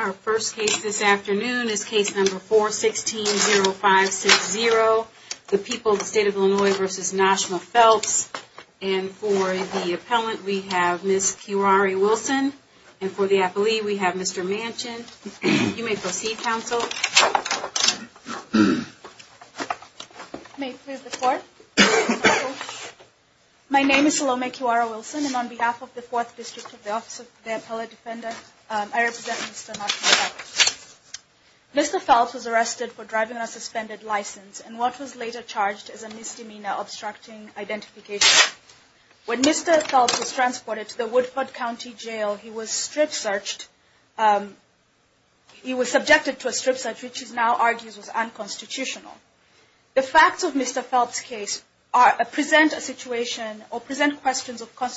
Our first case this afternoon is case number 4-16-05-6-0, the people of the state of Illinois v. Noshima Phelps. And for the appellant, we have Ms. Kiwari Wilson. And for the appellee, we have Mr. Manchin. You may proceed, counsel. May it please the court. My name is Salome Kiwari Wilson, and on behalf of the 4th District of the Office of the Appellate Defender, I represent Mr. Manchin. Mr. Phelps was arrested for driving on a suspended license and what was later charged as a misdemeanor obstructing identification. When Mr. Phelps was transported to the Woodford County Jail, he was strip-searched, he was subjected to a strip-search, which he now argues was unconstitutional. The facts of Mr. Phelps' case present a situation or present questions of whether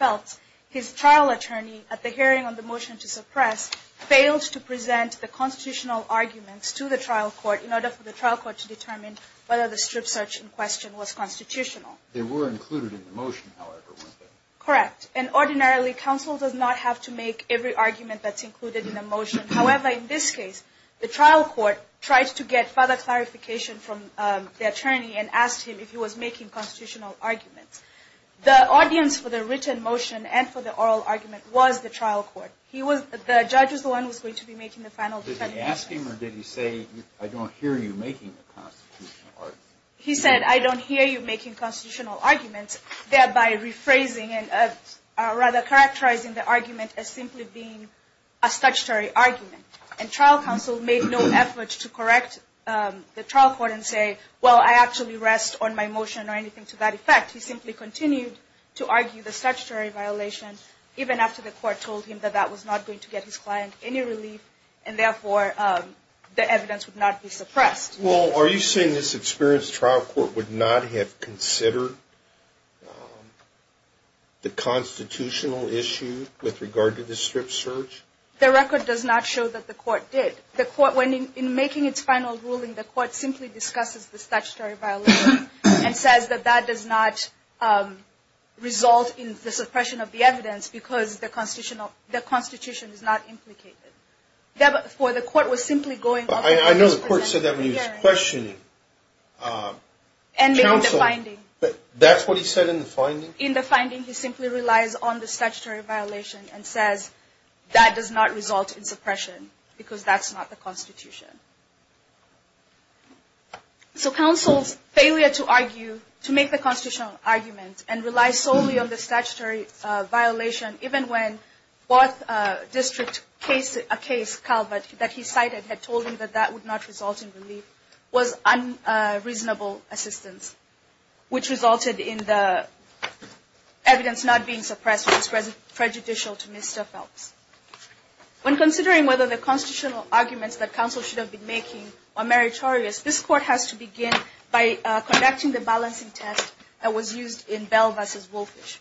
or not his trial attorney, at the hearing on the motion to suppress, failed to present the constitutional arguments to the trial court in order for the trial court to determine whether the strip-search in question was constitutional. They were included in the motion, however, weren't they? Correct. And ordinarily, counsel does not have to make every argument that's included in a motion. However, in this case, the trial court tried to get further clarification from the attorney and asked him if he was making constitutional arguments. The audience for the written motion and for the oral argument was the trial court. He was, the judge was the one who was going to be making the final defending argument. Did he ask him or did he say, I don't hear you making the constitutional arguments? He said, I don't hear you making constitutional arguments, thereby rephrasing and rather characterizing the argument as simply being a statutory argument. And trial counsel made no effort to correct the trial court and say, well, I actually rest on my motion or anything to that effect. He simply continued to argue the statutory violation even after the court told him that that was not going to get his client any relief and therefore the evidence would not be suppressed. Well, are you saying this experienced trial court would not have considered the constitutional issue with regard to the strip-search? The record does not show that the court did. The court, in making its final ruling, the court simply discusses the statutory violation and says that that does not result in the suppression of the evidence because the constitution is not implicated. Therefore, the court was simply going off of what was presented in the hearing. I know the court said that when he was questioning. And in the finding. That's what he said in the finding? In the finding, he simply relies on the statutory violation and says that does not result in suppression because that's not the constitution. So counsel's failure to argue, to make the constitutional argument and rely solely on the statutory violation, even when both district cases, a case, Calvert, that he cited had told him that that would not result in relief, was unreasonable assistance. Which resulted in the evidence not being suppressed was prejudicial to Mr. Phelps. When considering whether the constitutional arguments that counsel should have been making are meritorious, this court has to begin by conducting the balancing test that was used in Bell v. Wolfish.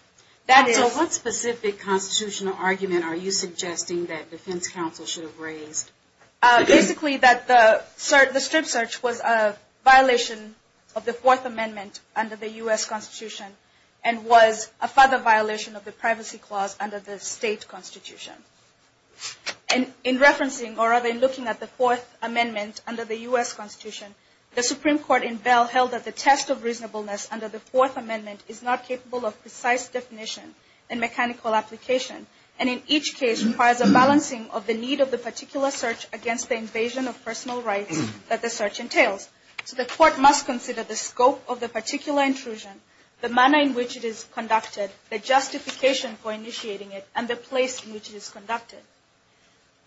So what specific constitutional argument are you suggesting that defense counsel should have raised? Basically that the strip-search was a violation of the Fourth Amendment under the U.S. Constitution and was a further violation of the And in referencing, or rather in looking at the Fourth Amendment under the U.S. Constitution, the Supreme Court in Bell held that the test of reasonableness under the Fourth Amendment is not capable of precise definition and mechanical application. And in each case requires a balancing of the need of the particular search against the invasion of personal rights that the search entails. So the court must consider the scope of the particular intrusion, the manner in which it is conducted, the justification for initiating it, and the place in which it is conducted.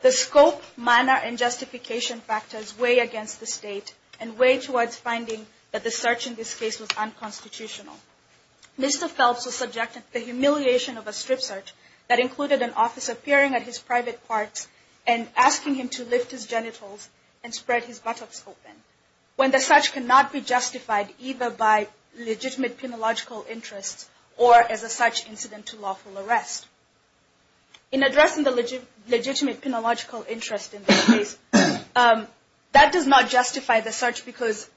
The scope, manner, and justification factors weigh against the state and weigh towards finding that the search in this case was unconstitutional. Mr. Phelps was subjected to the humiliation of a strip-search that included an officer peering at his private parts and asking him to lift his genitals and spread his buttocks open. When the search cannot be justified either by legitimate penological interests or as a search incident to lawful arrest. In addressing the legitimate penological interest in this case, that does not justify the search because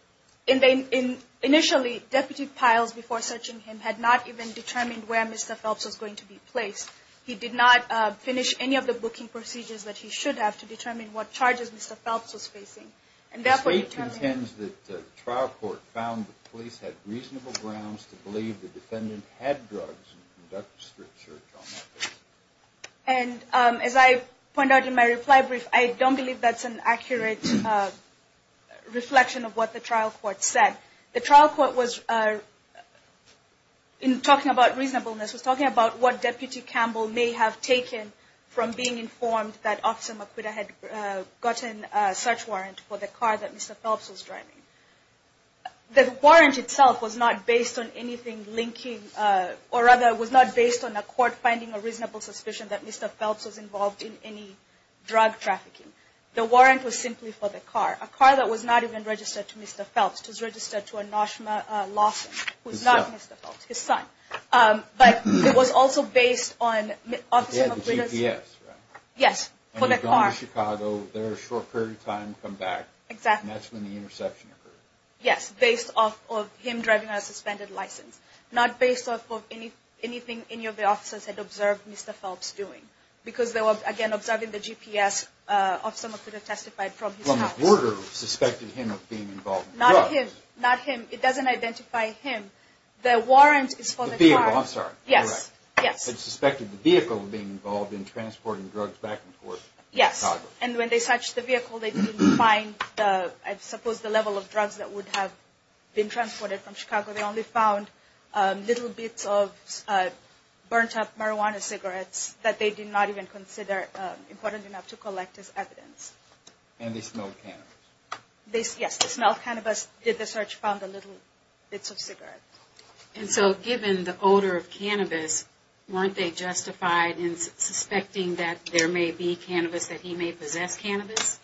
initially Deputy Piles, before searching him, had not even determined where Mr. Phelps was going to be placed. He did not finish any of the booking procedures that he should have to determine what charges Mr. Phelps was facing. The state contends that the trial court found that the police had reasonable grounds to believe the defendant had drugs and conducted a strip-search on that case. And as I pointed out in my reply brief, I don't believe that's an accurate reflection of what the trial court said. The trial court was, in talking about reasonableness, was talking about what Deputy Campbell may have taken from being informed that there had been a search warrant for the car that Mr. Phelps was driving. The warrant itself was not based on anything linking, or rather was not based on a court finding a reasonable suspicion that Mr. Phelps was involved in any drug trafficking. The warrant was simply for the car, a car that was not even registered to Mr. Phelps. It was registered to a Noshma Lawson, who is not Mr. Phelps, his son. But it was also based on the officer of witness. The GPS, right? Yes, for the car. He was in Chicago, there was a short period of time to come back. Exactly. And that's when the interception occurred. Yes, based off of him driving a suspended license. Not based off of anything any of the officers had observed Mr. Phelps doing. Because they were, again, observing the GPS of someone who had testified from his house. Well, the border suspected him of being involved in drugs. Not him, not him. It doesn't identify him. The warrant is for the car. The vehicle, I'm sorry. Yes, yes. They suspected the vehicle of being involved in transporting drugs back and forth to Chicago. Yes, and when they searched the vehicle, they didn't find, I suppose, the level of drugs that would have been transported from Chicago. They only found little bits of burnt-up marijuana cigarettes that they did not even consider important enough to collect as evidence. And they smelled cannabis. Yes, they smelled cannabis. Did the search, found the little bits of cigarettes. And so given the odor of cannabis, weren't they justified in suspecting that there may be cannabis, that he may possess cannabis?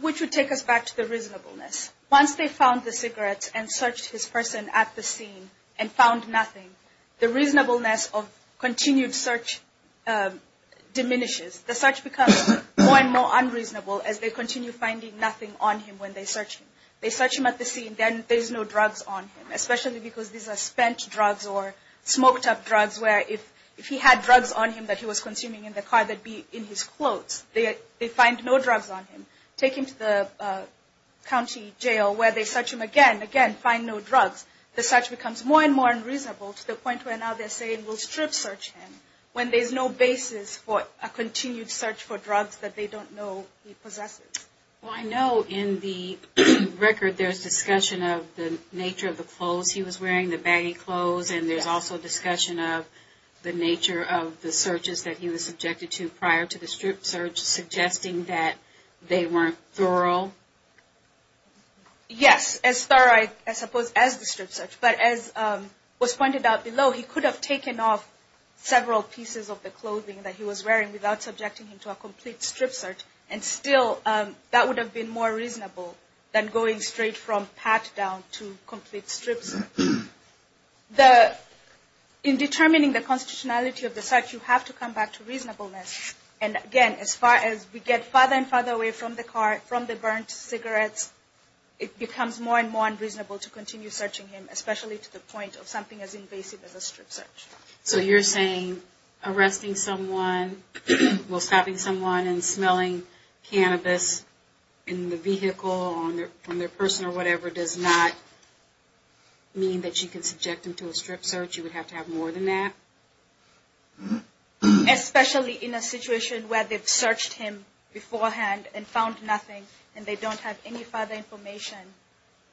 Which would take us back to the reasonableness. Once they found the cigarettes and searched his person at the scene and found nothing, the reasonableness of continued search diminishes. The search becomes more and more unreasonable as they continue finding nothing on him when they search him. They search him at the scene, then there's no drugs on him, especially because these are spent drugs or smoked-up drugs where if he had drugs on him that he was consuming in the car that would be in his clothes, they find no drugs on him. Take him to the county jail where they search him again, again, find no drugs. The search becomes more and more unreasonable to the point where now they're saying we'll strip search him when there's no basis for a continued search for drugs that they don't know he possesses. Well, I know in the record there's discussion of the nature of the clothes he was wearing, the baggy clothes, and there's also discussion of the nature of the searches that he was subjected to prior to the strip search, suggesting that they weren't thorough. Yes, as thorough, I suppose, as the strip search. But as was pointed out below, he could have taken off several pieces of the clothing that he was wearing without subjecting him to a complete strip search and still that would have been more reasonable than going straight from pat down to complete strip search. In determining the constitutionality of the search, you have to come back to reasonableness. And again, as far as we get farther and farther away from the car, from the burnt cigarettes, it becomes more and more unreasonable to continue searching him, especially to the point of something as invasive as a strip search. So you're saying arresting someone, stopping someone and smelling cannabis in the vehicle, on their person or whatever, does not mean that you can subject them to a strip search, you would have to have more than that? Especially in a situation where they've searched him beforehand and found nothing and they don't have any further information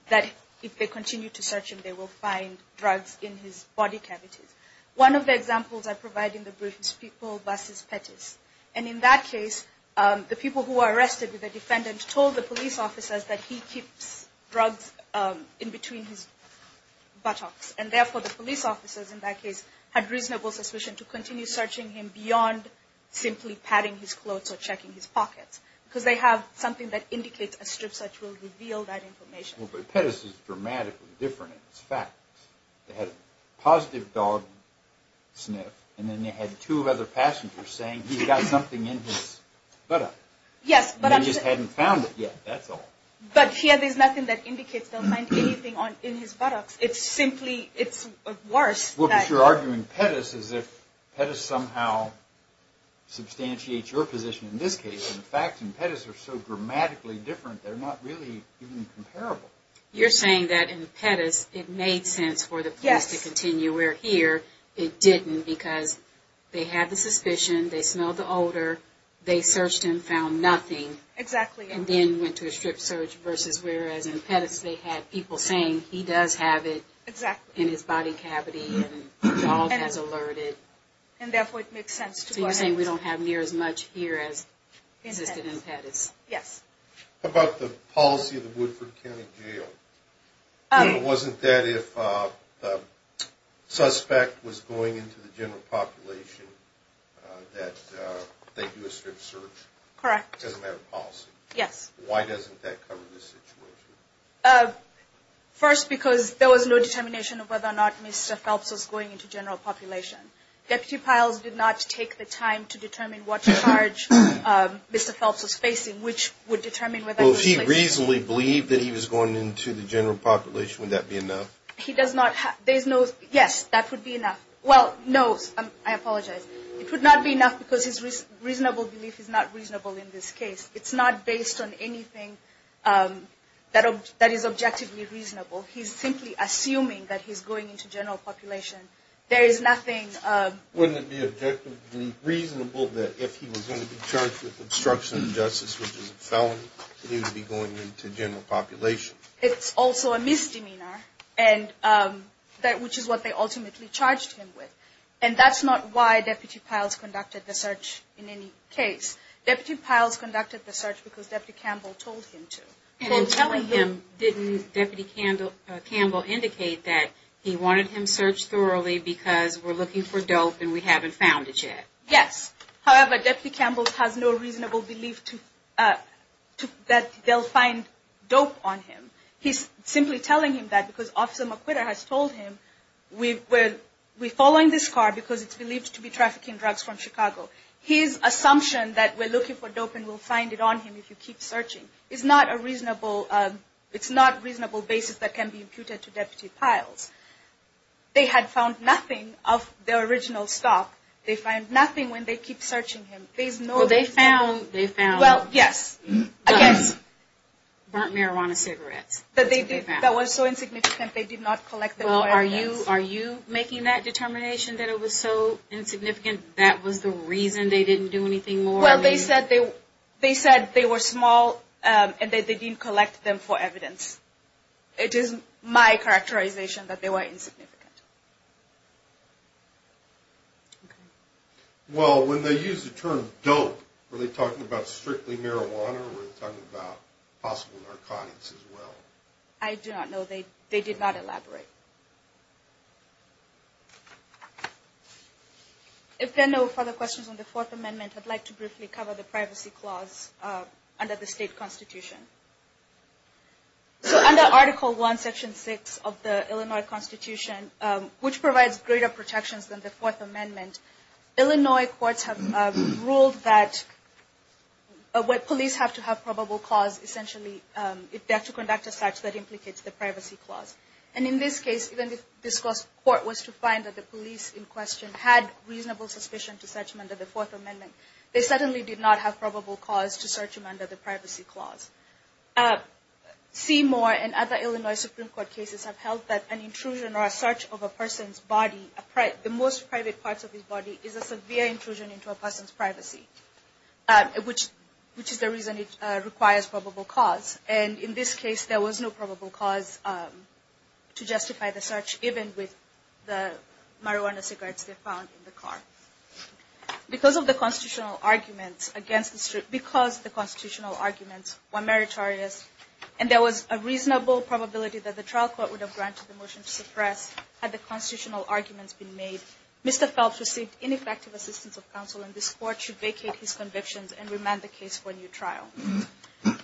that if they continue to search him they will find drugs in his body cavities. One of the examples I provide in the brief is people versus Pettis. And in that case, the people who were arrested with the defendant told the police officers that he keeps drugs in between his buttocks. And therefore, the police officers in that case had reasonable suspicion to continue searching him beyond simply patting his clothes or checking his pockets. Because they have something that indicates a strip search will reveal that information. Well, but Pettis is dramatically different in this fact. They had a positive dog sniff and then they had two other passengers saying he's got something in his buttock. Yes, but I'm just... And they just hadn't found it yet, that's all. But here there's nothing that indicates they'll find anything in his buttocks. It's simply, it's worse that... Well, but you're arguing Pettis as if Pettis somehow substantiates your position. In this case, the facts in Pettis are so dramatically different they're not really even comparable. You're saying that in Pettis it made sense for the police to continue, where here it didn't because they had the suspicion, they smelled the odor, they searched and found nothing. Exactly. And then went to a strip search versus whereas in Pettis they had people saying he does have it in his body cavity and the dog has alerted. And therefore it makes sense to go ahead and... So you're saying we don't have near as much here as existed in Pettis. Yes. How about the policy of the Woodford County Jail? Wasn't that if the suspect was going into the general population that they do a strip search? Correct. As a matter of policy? Yes. Why doesn't that cover this situation? First, because there was no determination of whether or not Mr. Phelps was going into general population. Deputy Piles did not take the time to determine what charge Mr. Phelps was facing, which would determine whether... Well, if he reasonably believed that he was going into the general population, would that be enough? He does not have... Yes, that would be enough. Well, no, I apologize. It would not be enough because his reasonable belief is not reasonable in this case. It's not based on anything that is objectively reasonable. He's simply assuming that he's going into general population. There is nothing... Wouldn't it be objectively reasonable that if he was going to be charged with obstruction of justice, which is a felony, he would be going into general population? It's also a misdemeanor, which is what they ultimately charged him with. And that's not why Deputy Piles conducted the search in any case. Deputy Piles conducted the search because Deputy Campbell told him to. And in telling him, didn't Deputy Campbell indicate that he wanted him searched thoroughly because we're looking for dope and we haven't found it yet? Yes. However, Deputy Campbell has no reasonable belief that they'll find dope on him. He's simply telling him that because Officer McQuitter has told him, we're following this car because it's believed to be trafficking drugs from Chicago. His assumption that we're looking for dope and we'll find it on him if you keep searching is not a reasonable basis that can be imputed to Deputy Piles. They had found nothing of their original stop. They find nothing when they keep searching him. Well, they found, they found. Well, yes. Burnt marijuana cigarettes. That was so insignificant they did not collect them for evidence. Are you making that determination that it was so insignificant that was the reason they didn't do anything more? Well, they said they were small and that they didn't collect them for evidence. It is my characterization that they were insignificant. Okay. Well, when they use the term dope, were they talking about strictly marijuana or were they talking about possible narcotics as well? I do not know. They did not elaborate. If there are no further questions on the Fourth Amendment, I'd like to briefly cover the Privacy Clause under the state constitution. So under Article I, Section 6 of the Illinois Constitution, which provides greater protections than the Fourth Amendment, Illinois courts have ruled that when police have to have probable cause, essentially they have to conduct a search that implicates the Privacy Clause. And in this case, even if this court was to find that the police in question had reasonable suspicion to search him under the Fourth Amendment, they certainly did not have probable cause to search him under the Privacy Clause. Seymour and other Illinois Supreme Court cases have held that an intrusion or a search of a person's body, the most private parts of his body, is a severe intrusion into a person's privacy, which is the reason it requires probable cause. And in this case, there was no probable cause to justify the search, even with the marijuana cigarettes they found in the car. Because the constitutional arguments were meritorious and there was a reasonable probability that the trial court would have granted the motion to suppress had the constitutional arguments been made, Mr. Phelps received ineffective assistance of counsel, and this court should vacate his convictions and remand the case for a new trial.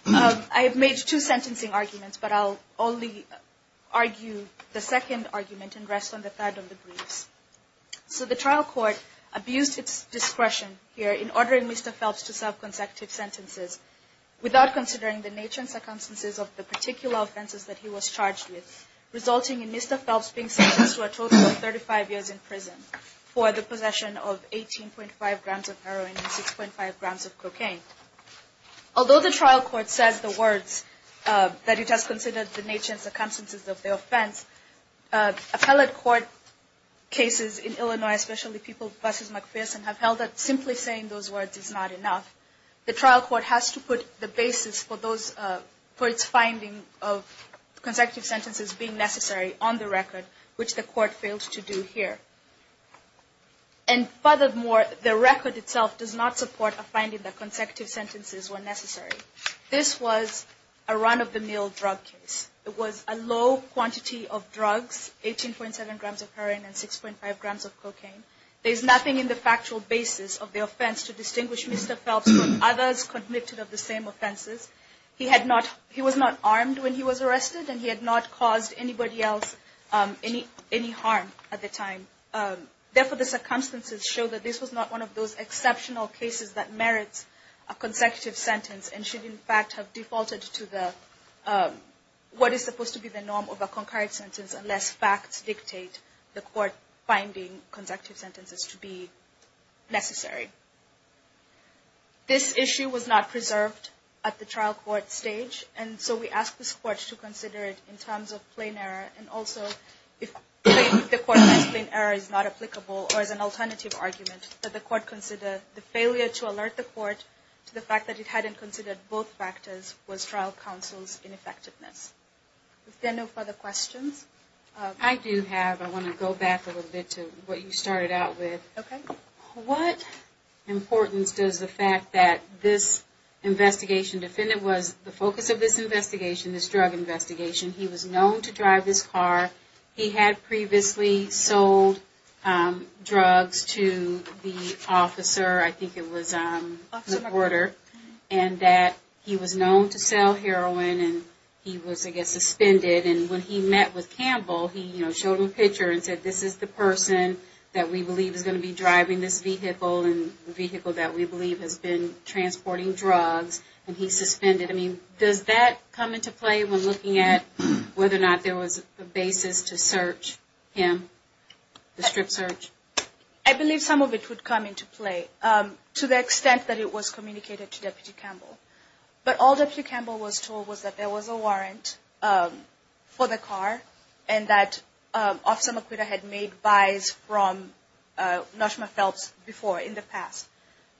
I have made two sentencing arguments, but I'll only argue the second argument and rest on the third of the briefs. So the trial court abused its discretion here in ordering Mr. Phelps to serve consecutive sentences without considering the nature and circumstances of the sentence to a total of 35 years in prison for the possession of 18.5 grams of heroin and 6.5 grams of cocaine. Although the trial court says the words that it has considered the nature and circumstances of the offense, appellate court cases in Illinois, especially people versus McPherson, have held that simply saying those words is not enough. The trial court has to put the basis for its finding of consecutive sentences being necessary on the record, which the court fails to do here. And furthermore, the record itself does not support a finding that consecutive sentences were necessary. This was a run-of-the-mill drug case. It was a low quantity of drugs, 18.7 grams of heroin and 6.5 grams of cocaine. There's nothing in the factual basis of the offense to distinguish Mr. Phelps from others convicted of the same offenses. He was not armed when he was arrested and he had not caused anybody else any harm at the time. Therefore, the circumstances show that this was not one of those exceptional cases that merits a consecutive sentence and should, in fact, have defaulted to what is supposed to be the norm of a concurrent sentence unless facts dictate the court finding consecutive sentences to be necessary. This issue was not preserved at the trial court stage and so we ask this court to consider it in terms of plain error and also if the court finds plain error is not applicable or is an alternative argument that the court consider the failure to alert the court to the fact that it hadn't considered both factors was trial counsel's ineffectiveness. If there are no further questions. I do have. I want to go back a little bit to what you started out with. Okay. What importance does the fact that this investigation defendant was the focus of this investigation, this drug investigation. He was known to drive this car. He had previously sold drugs to the officer. I think it was a supporter. And that he was known to sell heroin and he was, I guess, suspended. And when he met with Campbell, he showed him a picture and said, this is the person that we believe is going to be driving this vehicle and the vehicle that we believe has been transporting drugs. And he suspended him. Does that come into play when looking at whether or not there was a basis to search him, the strip search? I believe some of it would come into play to the extent that it was communicated to Deputy Campbell. But all Deputy Campbell was told was that there was a warrant for the car and that Officer McQuitta had made buys from Noshma Phelps before in the past.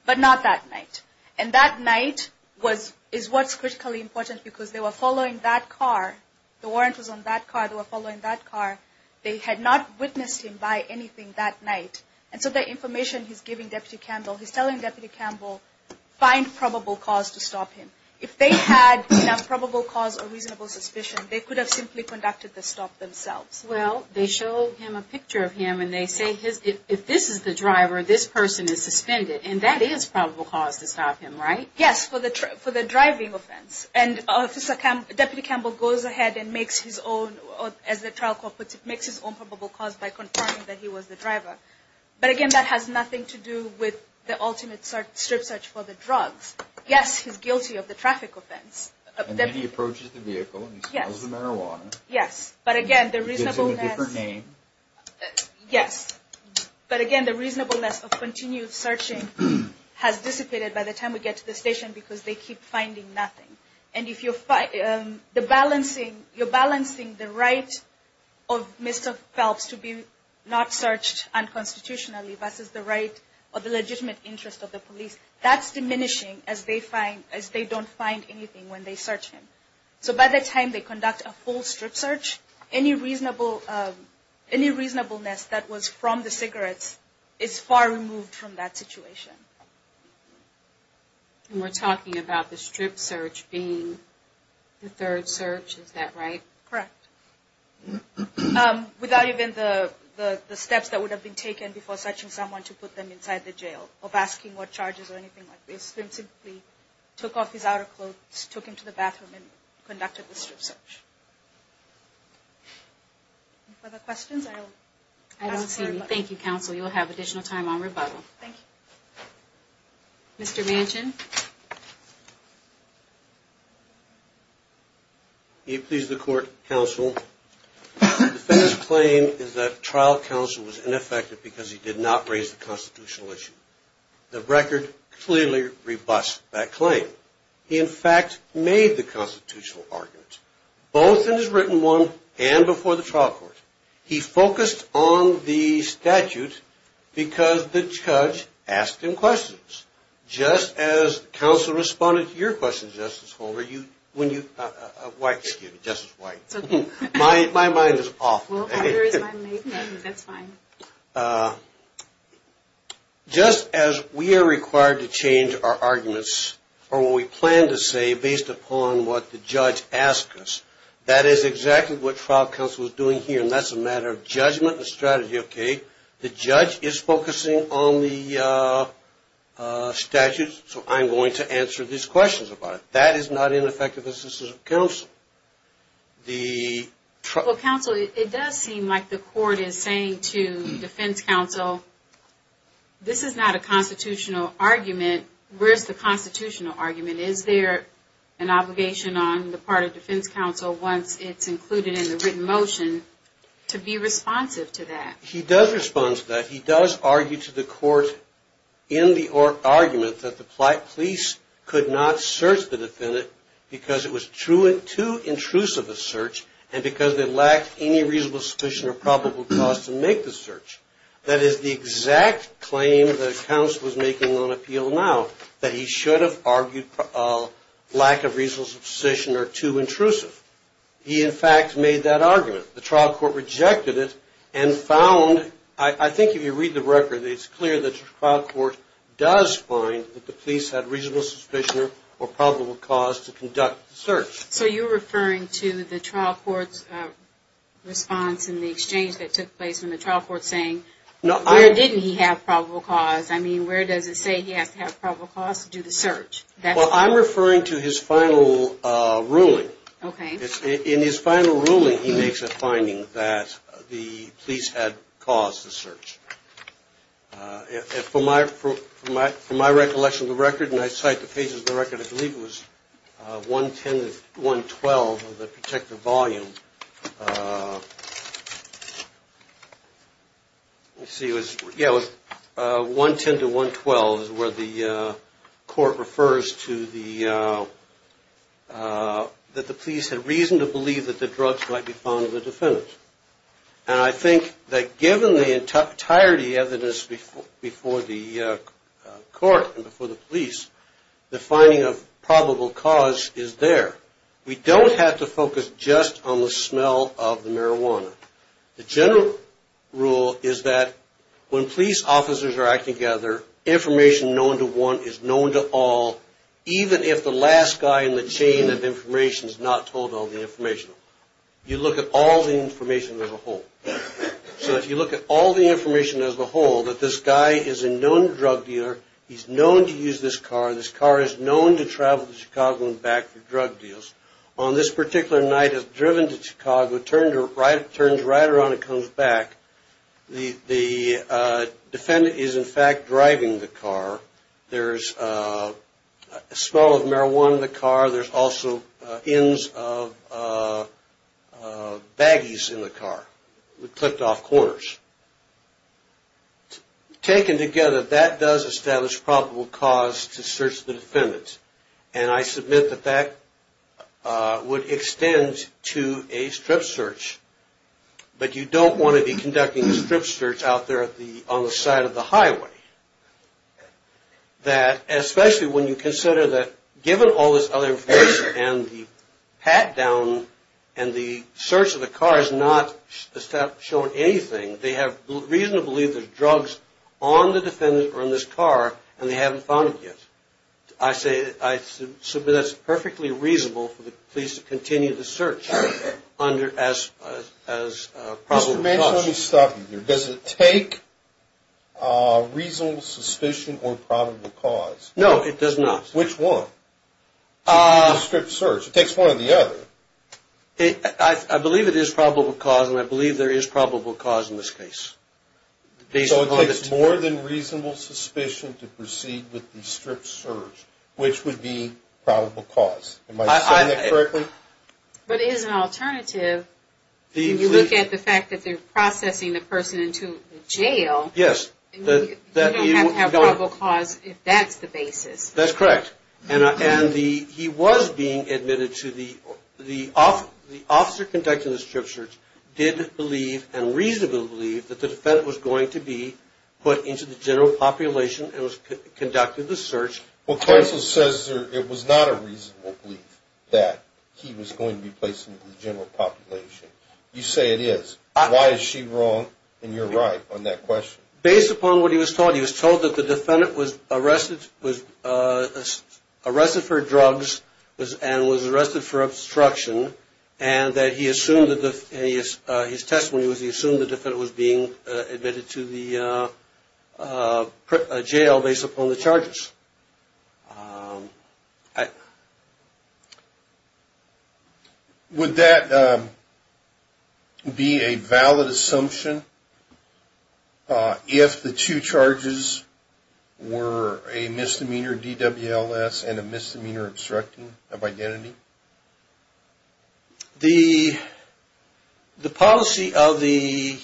But not that night. And that night is what's critically important because they were following that car. The warrant was on that car. They were following that car. They had not witnessed him buy anything that night. And so the information he's giving Deputy Campbell, he's telling Deputy Campbell find probable cause to stop him. If they had an improbable cause or reasonable suspicion, they could have simply conducted the stop themselves. Well, they show him a picture of him and they say, if this is the driver, this person is suspended. And that is probable cause to stop him, right? Yes, for the driving offense. And Deputy Campbell goes ahead and makes his own, as the trial court puts it, makes his own probable cause by confirming that he was the driver. But, again, that has nothing to do with the ultimate strip search for the drugs. Yes, he's guilty of the traffic offense. And then he approaches the vehicle and he smells the marijuana. Yes. But, again, the reasonableness. He gives him a different name. Yes. But, again, the reasonableness of continued searching has dissipated by the time we get to the station because they keep finding nothing. And if you're balancing the right of Mr. Phelps to be not searched unconstitutionally versus the right of the legitimate interest of the police, that's diminishing as they don't find anything when they search him. So by the time they conduct a full strip search, any reasonableness that was from the cigarettes is far removed from that situation. And we're talking about the strip search being the third search. Is that right? Correct. Without even the steps that would have been taken before searching someone to put them inside the jail of asking what charges or anything like this. They simply took off his outer clothes, took him to the bathroom, and conducted the strip search. Any further questions? I don't see any. Thank you, counsel. You'll have additional time on rebuttal. Mr. Manchin? You please the court, counsel. The defendant's claim is that trial counsel was ineffective because he did not raise the constitutional issue. The record clearly rebuts that claim. He, in fact, made the constitutional argument, both in his written one and before the trial court. He focused on the statute because the judge asked him questions. Just as counsel responded to your question, Justice White. My mind is off. That's fine. Just as we are required to change our arguments or what we plan to say based upon what the judge asked us, that is exactly what trial counsel is doing here, and that's a matter of judgment and strategy. The judge is focusing on the statute, so I'm going to answer these questions about it. That is not ineffective assistance of counsel. Counsel, it does seem like the court is saying to defense counsel, this is not a constitutional argument. Where's the constitutional argument? Is there an obligation on the part of defense counsel, once it's included in the written motion, to be responsive to that? He does respond to that. He does argue to the court in the argument that the police could not search the defendant because it was too intrusive a search and because it lacked any reasonable suspicion or probable cause to make the search. That is the exact claim that counsel is making on appeal now, that he should have argued lack of reasonable suspicion or too intrusive. He, in fact, made that argument. The trial court rejected it and found, I think if you read the record, it's clear that the trial court does find that the police had reasonable suspicion or probable cause to conduct the search. So you're referring to the trial court's response in the exchange that took place when the trial court's saying, where didn't he have probable cause? I mean, where does it say he has to have probable cause to do the search? Well, I'm referring to his final ruling. In his final ruling, he makes a finding that the police had caused the search. From my recollection of the record, and I cite the pages of the record, I believe it was 110-112 of the protective volume. Let's see. Yeah, it was 110-112 is where the court refers to that the police had reason to believe that the drugs might be found in the defendant. And I think that given the entirety of the evidence before the court and before the police, the finding of probable cause is there. We don't have to focus just on the smell of the marijuana. The general rule is that when police officers are acting together, information known to one is known to all, even if the last guy in the chain of information is not told all the information. You look at all the information as a whole. So if you look at all the information as a whole, that this guy is a known drug dealer, he's known to use this car, this car is known to travel to Chicago and back for drug deals. On this particular night, it's driven to Chicago, turns right around and comes back. The defendant is, in fact, driving the car. There's a smell of marijuana in the car. There's also inns of baggies in the car. We clicked off corners. Taken together, that does establish probable cause to search the defendant. And I submit that that would extend to a strip search. But you don't want to be conducting a strip search out there on the side of the highway. Especially when you consider that given all this other information and the pat-down and the search of the car has not shown anything, they have reason to believe there's drugs on the defendant or in this car and they haven't found it yet. I say I submit that's perfectly reasonable for the police to continue the search as probable cause. Mr. Manchin, let me stop you there. Does it take reasonable suspicion or probable cause? No, it does not. Which one? It's a strip search. It takes one or the other. I believe it is probable cause and I believe there is probable cause in this case. So it takes more than reasonable suspicion to proceed with the strip search, which would be probable cause. Am I saying that correctly? But it is an alternative if you look at the fact that they're processing the person into jail. Yes. You don't have probable cause if that's the basis. That's correct. And he was being admitted to the – the officer conducting the strip search did believe and reasonably believed that the defendant was going to be put into the general population and was conducting the search. Well, counsel says it was not a reasonable belief that he was going to be placed into the general population. You say it is. Why is she wrong and you're right on that question? Based upon what he was told, he was told that the defendant was arrested for drugs and was arrested for obstruction and that he assumed that the – his testimony was he assumed the defendant was being admitted to the jail based upon the charges. Would that be a valid assumption if the two charges were a misdemeanor DWLS and a misdemeanor obstructing of identity? The policy of the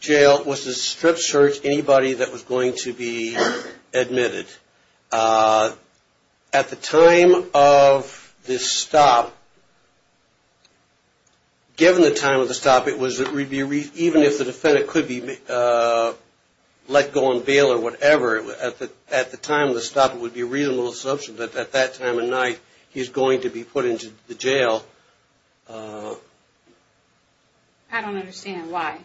jail was to strip search anybody that was going to be admitted. At the time of this stop, given the time of the stop, it was – even if the defendant could be let go on bail or whatever, at the time of the stop it would be a reasonable assumption that at that time of night he's going to be put into the jail. I don't understand why.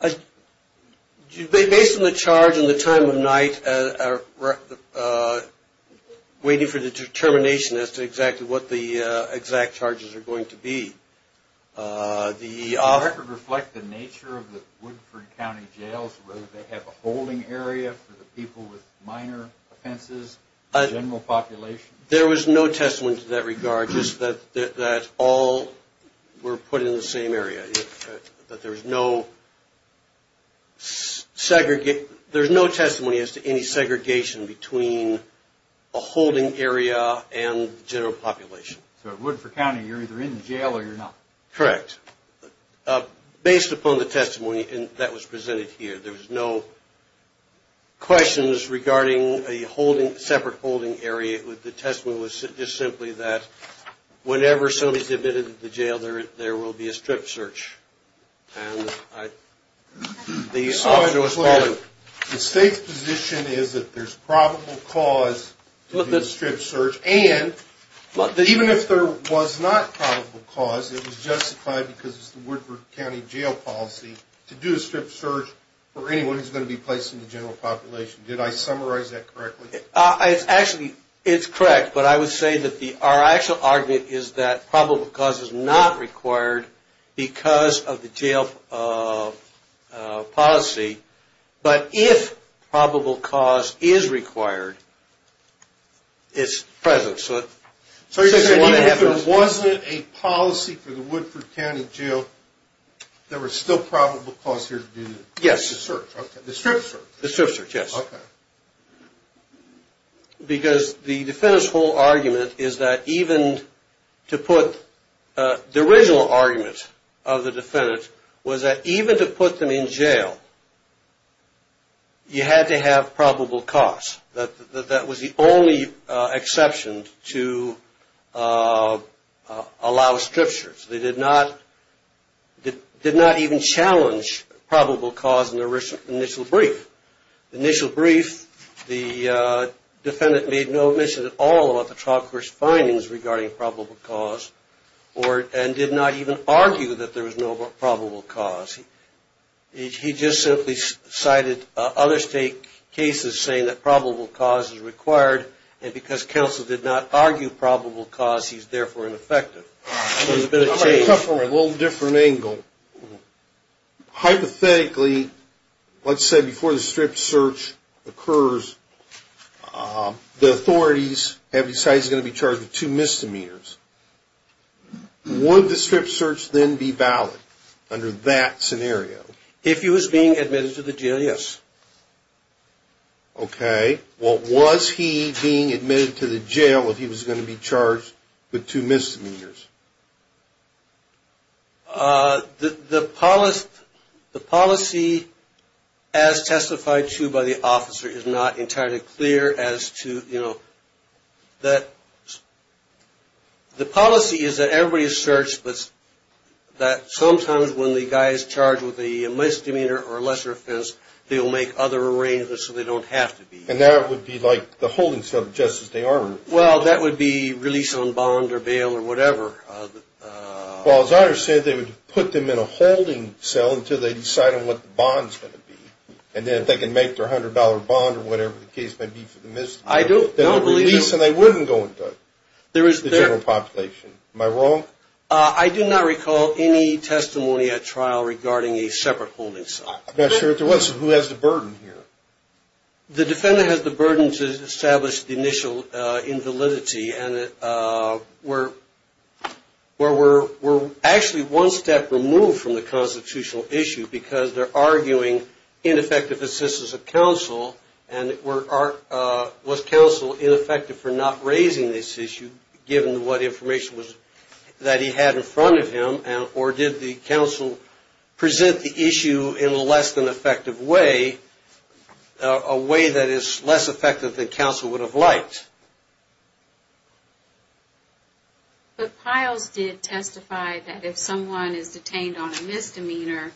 Based on the charge and the time of night, waiting for the determination as to exactly what the exact charges are going to be, the – Does the record reflect the nature of the Woodford County Jails, whether they have a holding area for the people with minor offenses, general population? There was no testament to that regard, just that all were put in the same area. But there's no – there's no testimony as to any segregation between a holding area and general population. So at Woodford County you're either in the jail or you're not. Correct. Based upon the testimony that was presented here, there was no questions regarding a separate holding area. The testimony was just simply that whenever somebody's admitted to jail, there will be a strip search. And I – the officer was calling – The State's position is that there's probable cause to do a strip search, and even if there was not probable cause, it was justified because it's the Woodford County Jail policy to do a strip search for anyone who's going to be placed in the general population. Did I summarize that correctly? Actually, it's correct, but I would say that the – our actual argument is that probable cause is not required because of the jail policy, but if probable cause is required, it's present. So you're saying even if there wasn't a policy for the Woodford County Jail, there was still probable cause here to do the search? Yes. The strip search? The strip search, yes. Okay. Because the defendant's whole argument is that even to put – the original argument of the defendant was that even to put them in jail, you had to have probable cause. That was the only exception to allow a strip search. They did not even challenge probable cause in the initial brief. The initial brief, the defendant made no admission at all about the trial court's findings regarding probable cause and did not even argue that there was no probable cause. He just simply cited other state cases saying that probable cause is required, and because counsel did not argue probable cause, he's therefore ineffective. So there's been a change. I'm going to come from a little different angle. Hypothetically, let's say before the strip search occurs, the authorities have decided he's going to be charged with two misdemeanors. Would the strip search then be valid under that scenario? If he was being admitted to the jail, yes. Okay. Was he being admitted to the jail if he was going to be charged with two misdemeanors? The policy as testified to by the officer is not entirely clear as to, you know, that the policy is that everybody is searched, but that sometimes when the guy is charged with a misdemeanor or lesser offense, they will make other arrangements so they don't have to be. And that would be like the holding cell just as they are? Well, that would be release on bond or bail or whatever. Well, as I understand it, they would put them in a holding cell until they decide on what the bond is going to be, and then if they can make their $100 bond or whatever the case may be for the misdemeanor, they would release and they wouldn't go into the general population. Am I wrong? I do not recall any testimony at trial regarding a separate holding cell. I'm not sure if there was. Who has the burden here? The defendant has the burden to establish the initial invalidity and we're actually one step removed from the constitutional issue because they're arguing ineffective assistance of counsel and was counsel ineffective for not raising this issue given what information was that he had in front of him or did the counsel present the issue in a less than effective way, a way that is less effective than counsel would have liked? But Piles did testify that if someone is detained on a misdemeanor,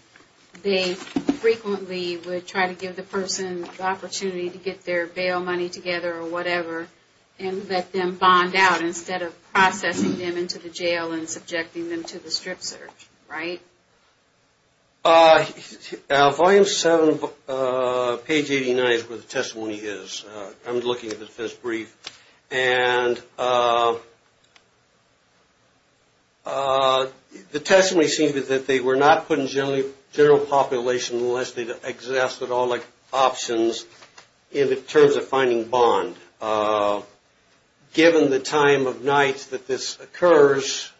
they frequently would try to give the person the opportunity to get their bail money together or whatever and let them bond out instead of processing them into the jail and subjecting them to the strip search, right? Volume 7, page 89 is where the testimony is. I'm looking at the defense brief. The testimony seems that they were not put in general population unless they've exhausted all the options in terms of finding bond. Given the time of night that this occurs,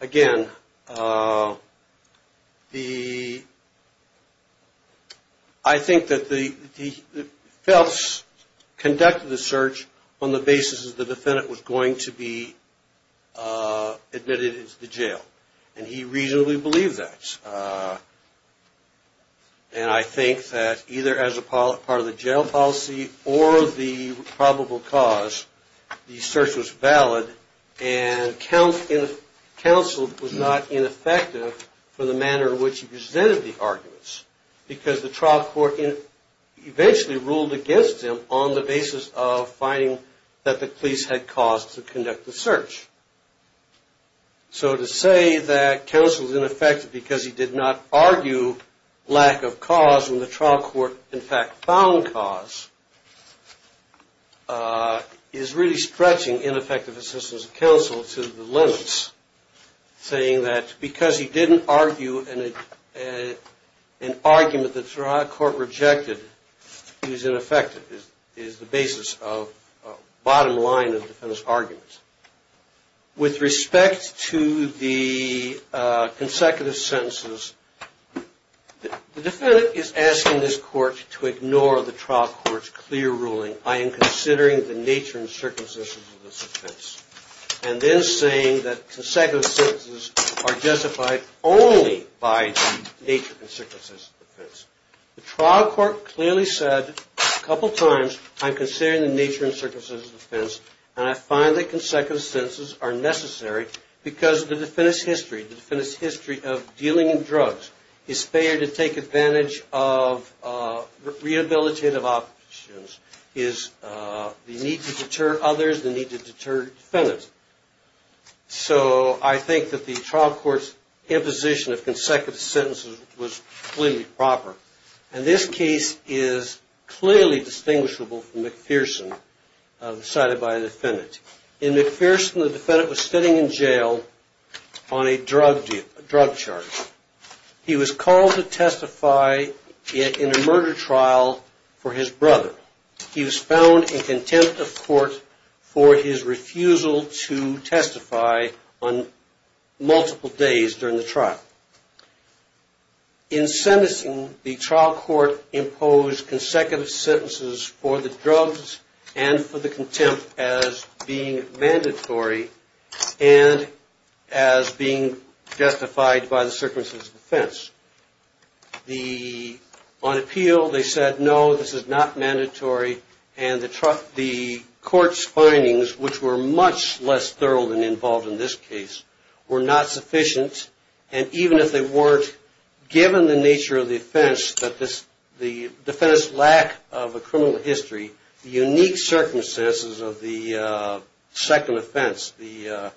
again, I think that Phelps conducted the search on the basis that the defendant was going to be admitted into the jail and he reasonably believed that. And I think that either as a part of the jail policy or the probable cause, the search was valid and counsel was not ineffective for the manner in which he presented the arguments because the trial court eventually ruled against him on the basis of finding that the police had caused to conduct the search. So to say that counsel is ineffective because he did not argue lack of cause when the trial court in fact found cause is really stretching ineffective assistance of counsel to the limits. Saying that because he didn't argue an argument that the trial court rejected, is ineffective, is the basis of the bottom line of the defendant's argument. With respect to the consecutive sentences, the defendant is asking this court to ignore the trial court's clear ruling, I am considering the nature and circumstances of this offense. And then saying that consecutive sentences are justified only by the nature and circumstances of the offense. The trial court clearly said a couple times, I am considering the nature and circumstances of the offense and I find that consecutive sentences are necessary because the defendant's history, the defendant's history of dealing in drugs is fair to take advantage of rehabilitative options, is the need to deter others, the need to deter defendants. So I think that the trial court's imposition of consecutive sentences was clearly proper. And this case is clearly distinguishable from McPherson decided by the defendant. In McPherson the defendant was sitting in jail on a drug charge. He was called to testify in a murder trial for his brother. He was found in contempt of court for his refusal to testify on multiple days during the trial. In sentencing, the trial court imposed consecutive sentences for the drugs and for the contempt as being mandatory and as being justified by the circumstances of the offense. On appeal they said no, this is not mandatory. And the court's findings, which were much less thorough than involved in this case, were not sufficient. And even if they weren't, given the nature of the offense, the defendant's lack of a criminal history, the unique circumstances of the second offense, the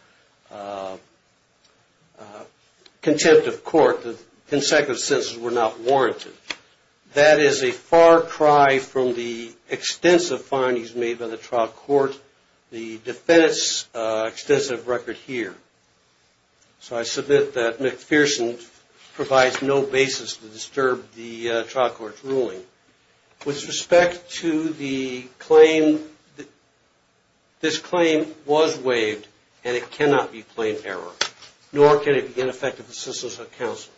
contempt of court, the consecutive sentences were not warranted. That is a far cry from the extensive findings made by the trial court, the defendant's extensive record here. So I submit that McPherson provides no basis to disturb the trial court's ruling. With respect to the claim, this claim was waived and it cannot be claimed error. Nor can it be ineffective assistance of counsel.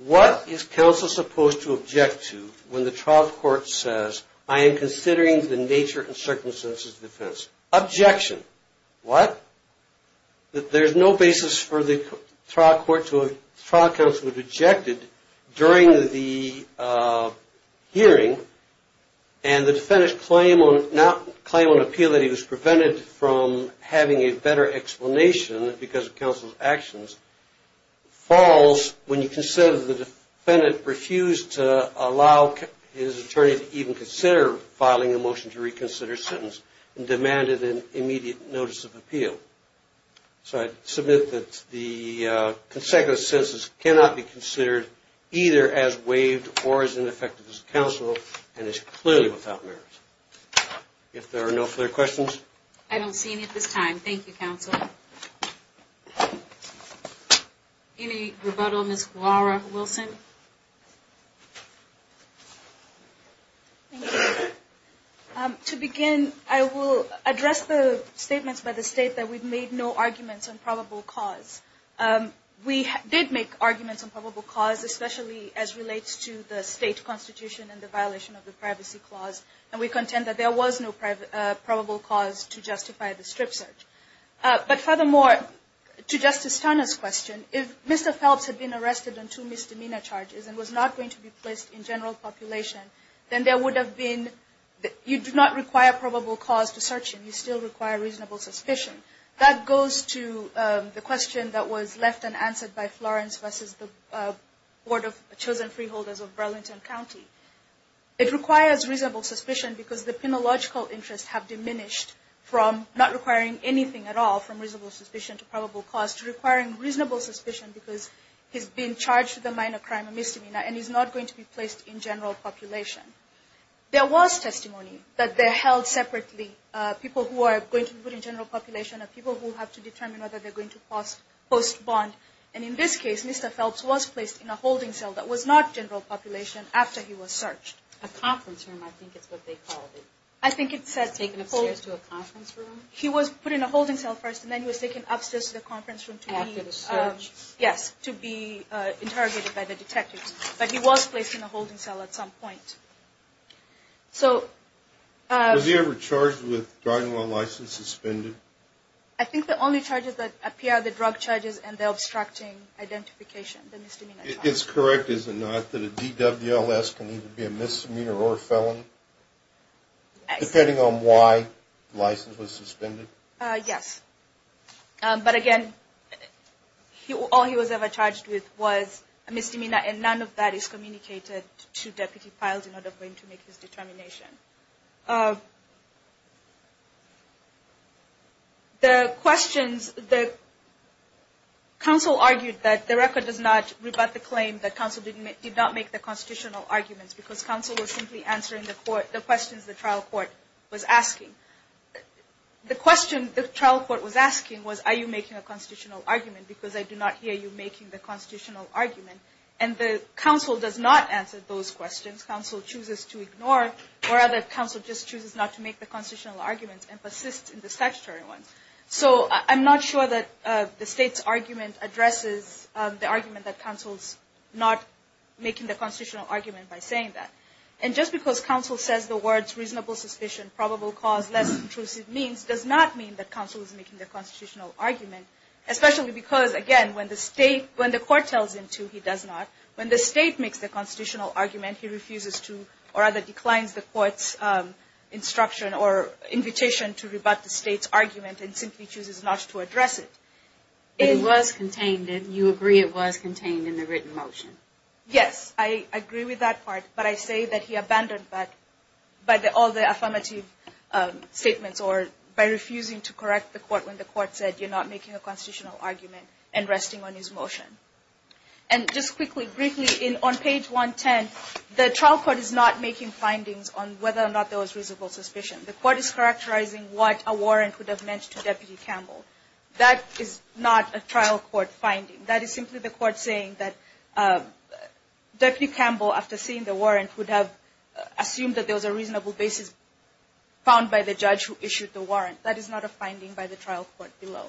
What is counsel supposed to object to when the trial court says, I am considering the nature and circumstances of the offense? Objection. What? There is no basis for the trial court to have rejected during the hearing and the defendant's claim on appeal that he was prevented from having a better explanation because of counsel's actions falls when you consider the defendant refused to allow his attorney to even consider filing a motion to reconsider sentence and demanded an immediate notice of appeal. So I submit that the consecutive sentences cannot be considered either as waived or as ineffective as counsel and is clearly without merit. If there are no further questions. I don't see any at this time. Thank you, counsel. Any rebuttal, Ms. Juara Wilson? To begin, I will address the statements by the state that we've made no arguments on probable cause. We did make arguments on probable cause, especially as relates to the state constitution and the violation of the privacy clause. And we contend that there was no probable cause to justify the strip search. But furthermore, to Justice Turner's question, if Mr. Phelps had been arrested on two misdemeanor charges and was not going to be placed in general population, then there would have been, you do not require probable cause to search him. You still require reasonable suspicion. That goes to the question that was left unanswered by Florence versus the Board of Chosen Freeholders of Burlington County. It requires reasonable suspicion because the penological interests have diminished from not requiring anything at all from reasonable suspicion to probable cause to requiring reasonable suspicion because he's been charged with a minor crime, a misdemeanor, and he's not going to be placed in general population. There was testimony that they held separately people who are going to be put in general population and people who have to determine whether they're going to post bond. And in this case, Mr. Phelps was placed in a holding cell that was not general population after he was searched. A conference room, I think it's what they called it. He was put in a holding cell first and then he was taken upstairs to the conference room to be interrogated by the detectives. But he was placed in a holding cell at some point. Was he ever charged with driving while license suspended? I think the only charges that appear are the drug charges and the obstructing identification, the misdemeanor charges. It's correct, is it not, that a DWLS can either be a misdemeanor or a felon? Depending on why license was suspended? Yes. But again, all he was ever charged with was a misdemeanor and none of that is communicated to Deputy Phelps in order for him to make his determination. The questions that counsel argued that the record does not rebut the claim that counsel did not make the constitutional arguments because counsel was simply answering the questions the trial court was asking. The question the trial court was asking was, are you making a constitutional argument because I do not hear you making the constitutional argument. And the counsel does not answer those questions. Counsel chooses to ignore or rather counsel just chooses not to make the constitutional arguments and persists in the statutory ones. So I'm not sure that the state's argument addresses the argument that counsel is not making the constitutional argument by saying that. And just because counsel says the words reasonable suspicion, probable cause, less intrusive means, does not mean that counsel is making the constitutional argument. Especially because, again, when the state, when the court tells him to, he does not. When the state makes the constitutional argument, he refuses to or rather declines the court's instruction or invitation to rebut the state's argument and simply chooses not to address it. It was contained and you agree it was contained in the written motion. Yes, I agree with that part, but I say that he abandoned that by all the affirmative statements or by refusing to correct the court when the court said you're not making a constitutional argument and resting on his motion. And just quickly, briefly, on page 110, the trial court is not making findings on whether or not there was reasonable suspicion. The court is characterizing what a warrant would have meant to Deputy Campbell. That is not a trial court finding. That is simply the court saying that Deputy Campbell, after seeing the warrant, would have assumed that there was a reasonable basis found by the judge who issued the warrant. That is not a finding by the trial court below.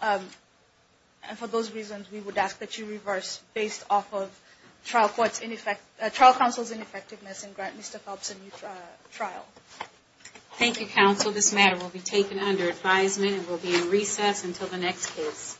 And for those reasons, we would ask that you reverse based off of trial counsel's ineffectiveness and grant Mr. Phelps a new trial. Thank you, counsel. This matter will be taken under advisement and will be in recess until the next case.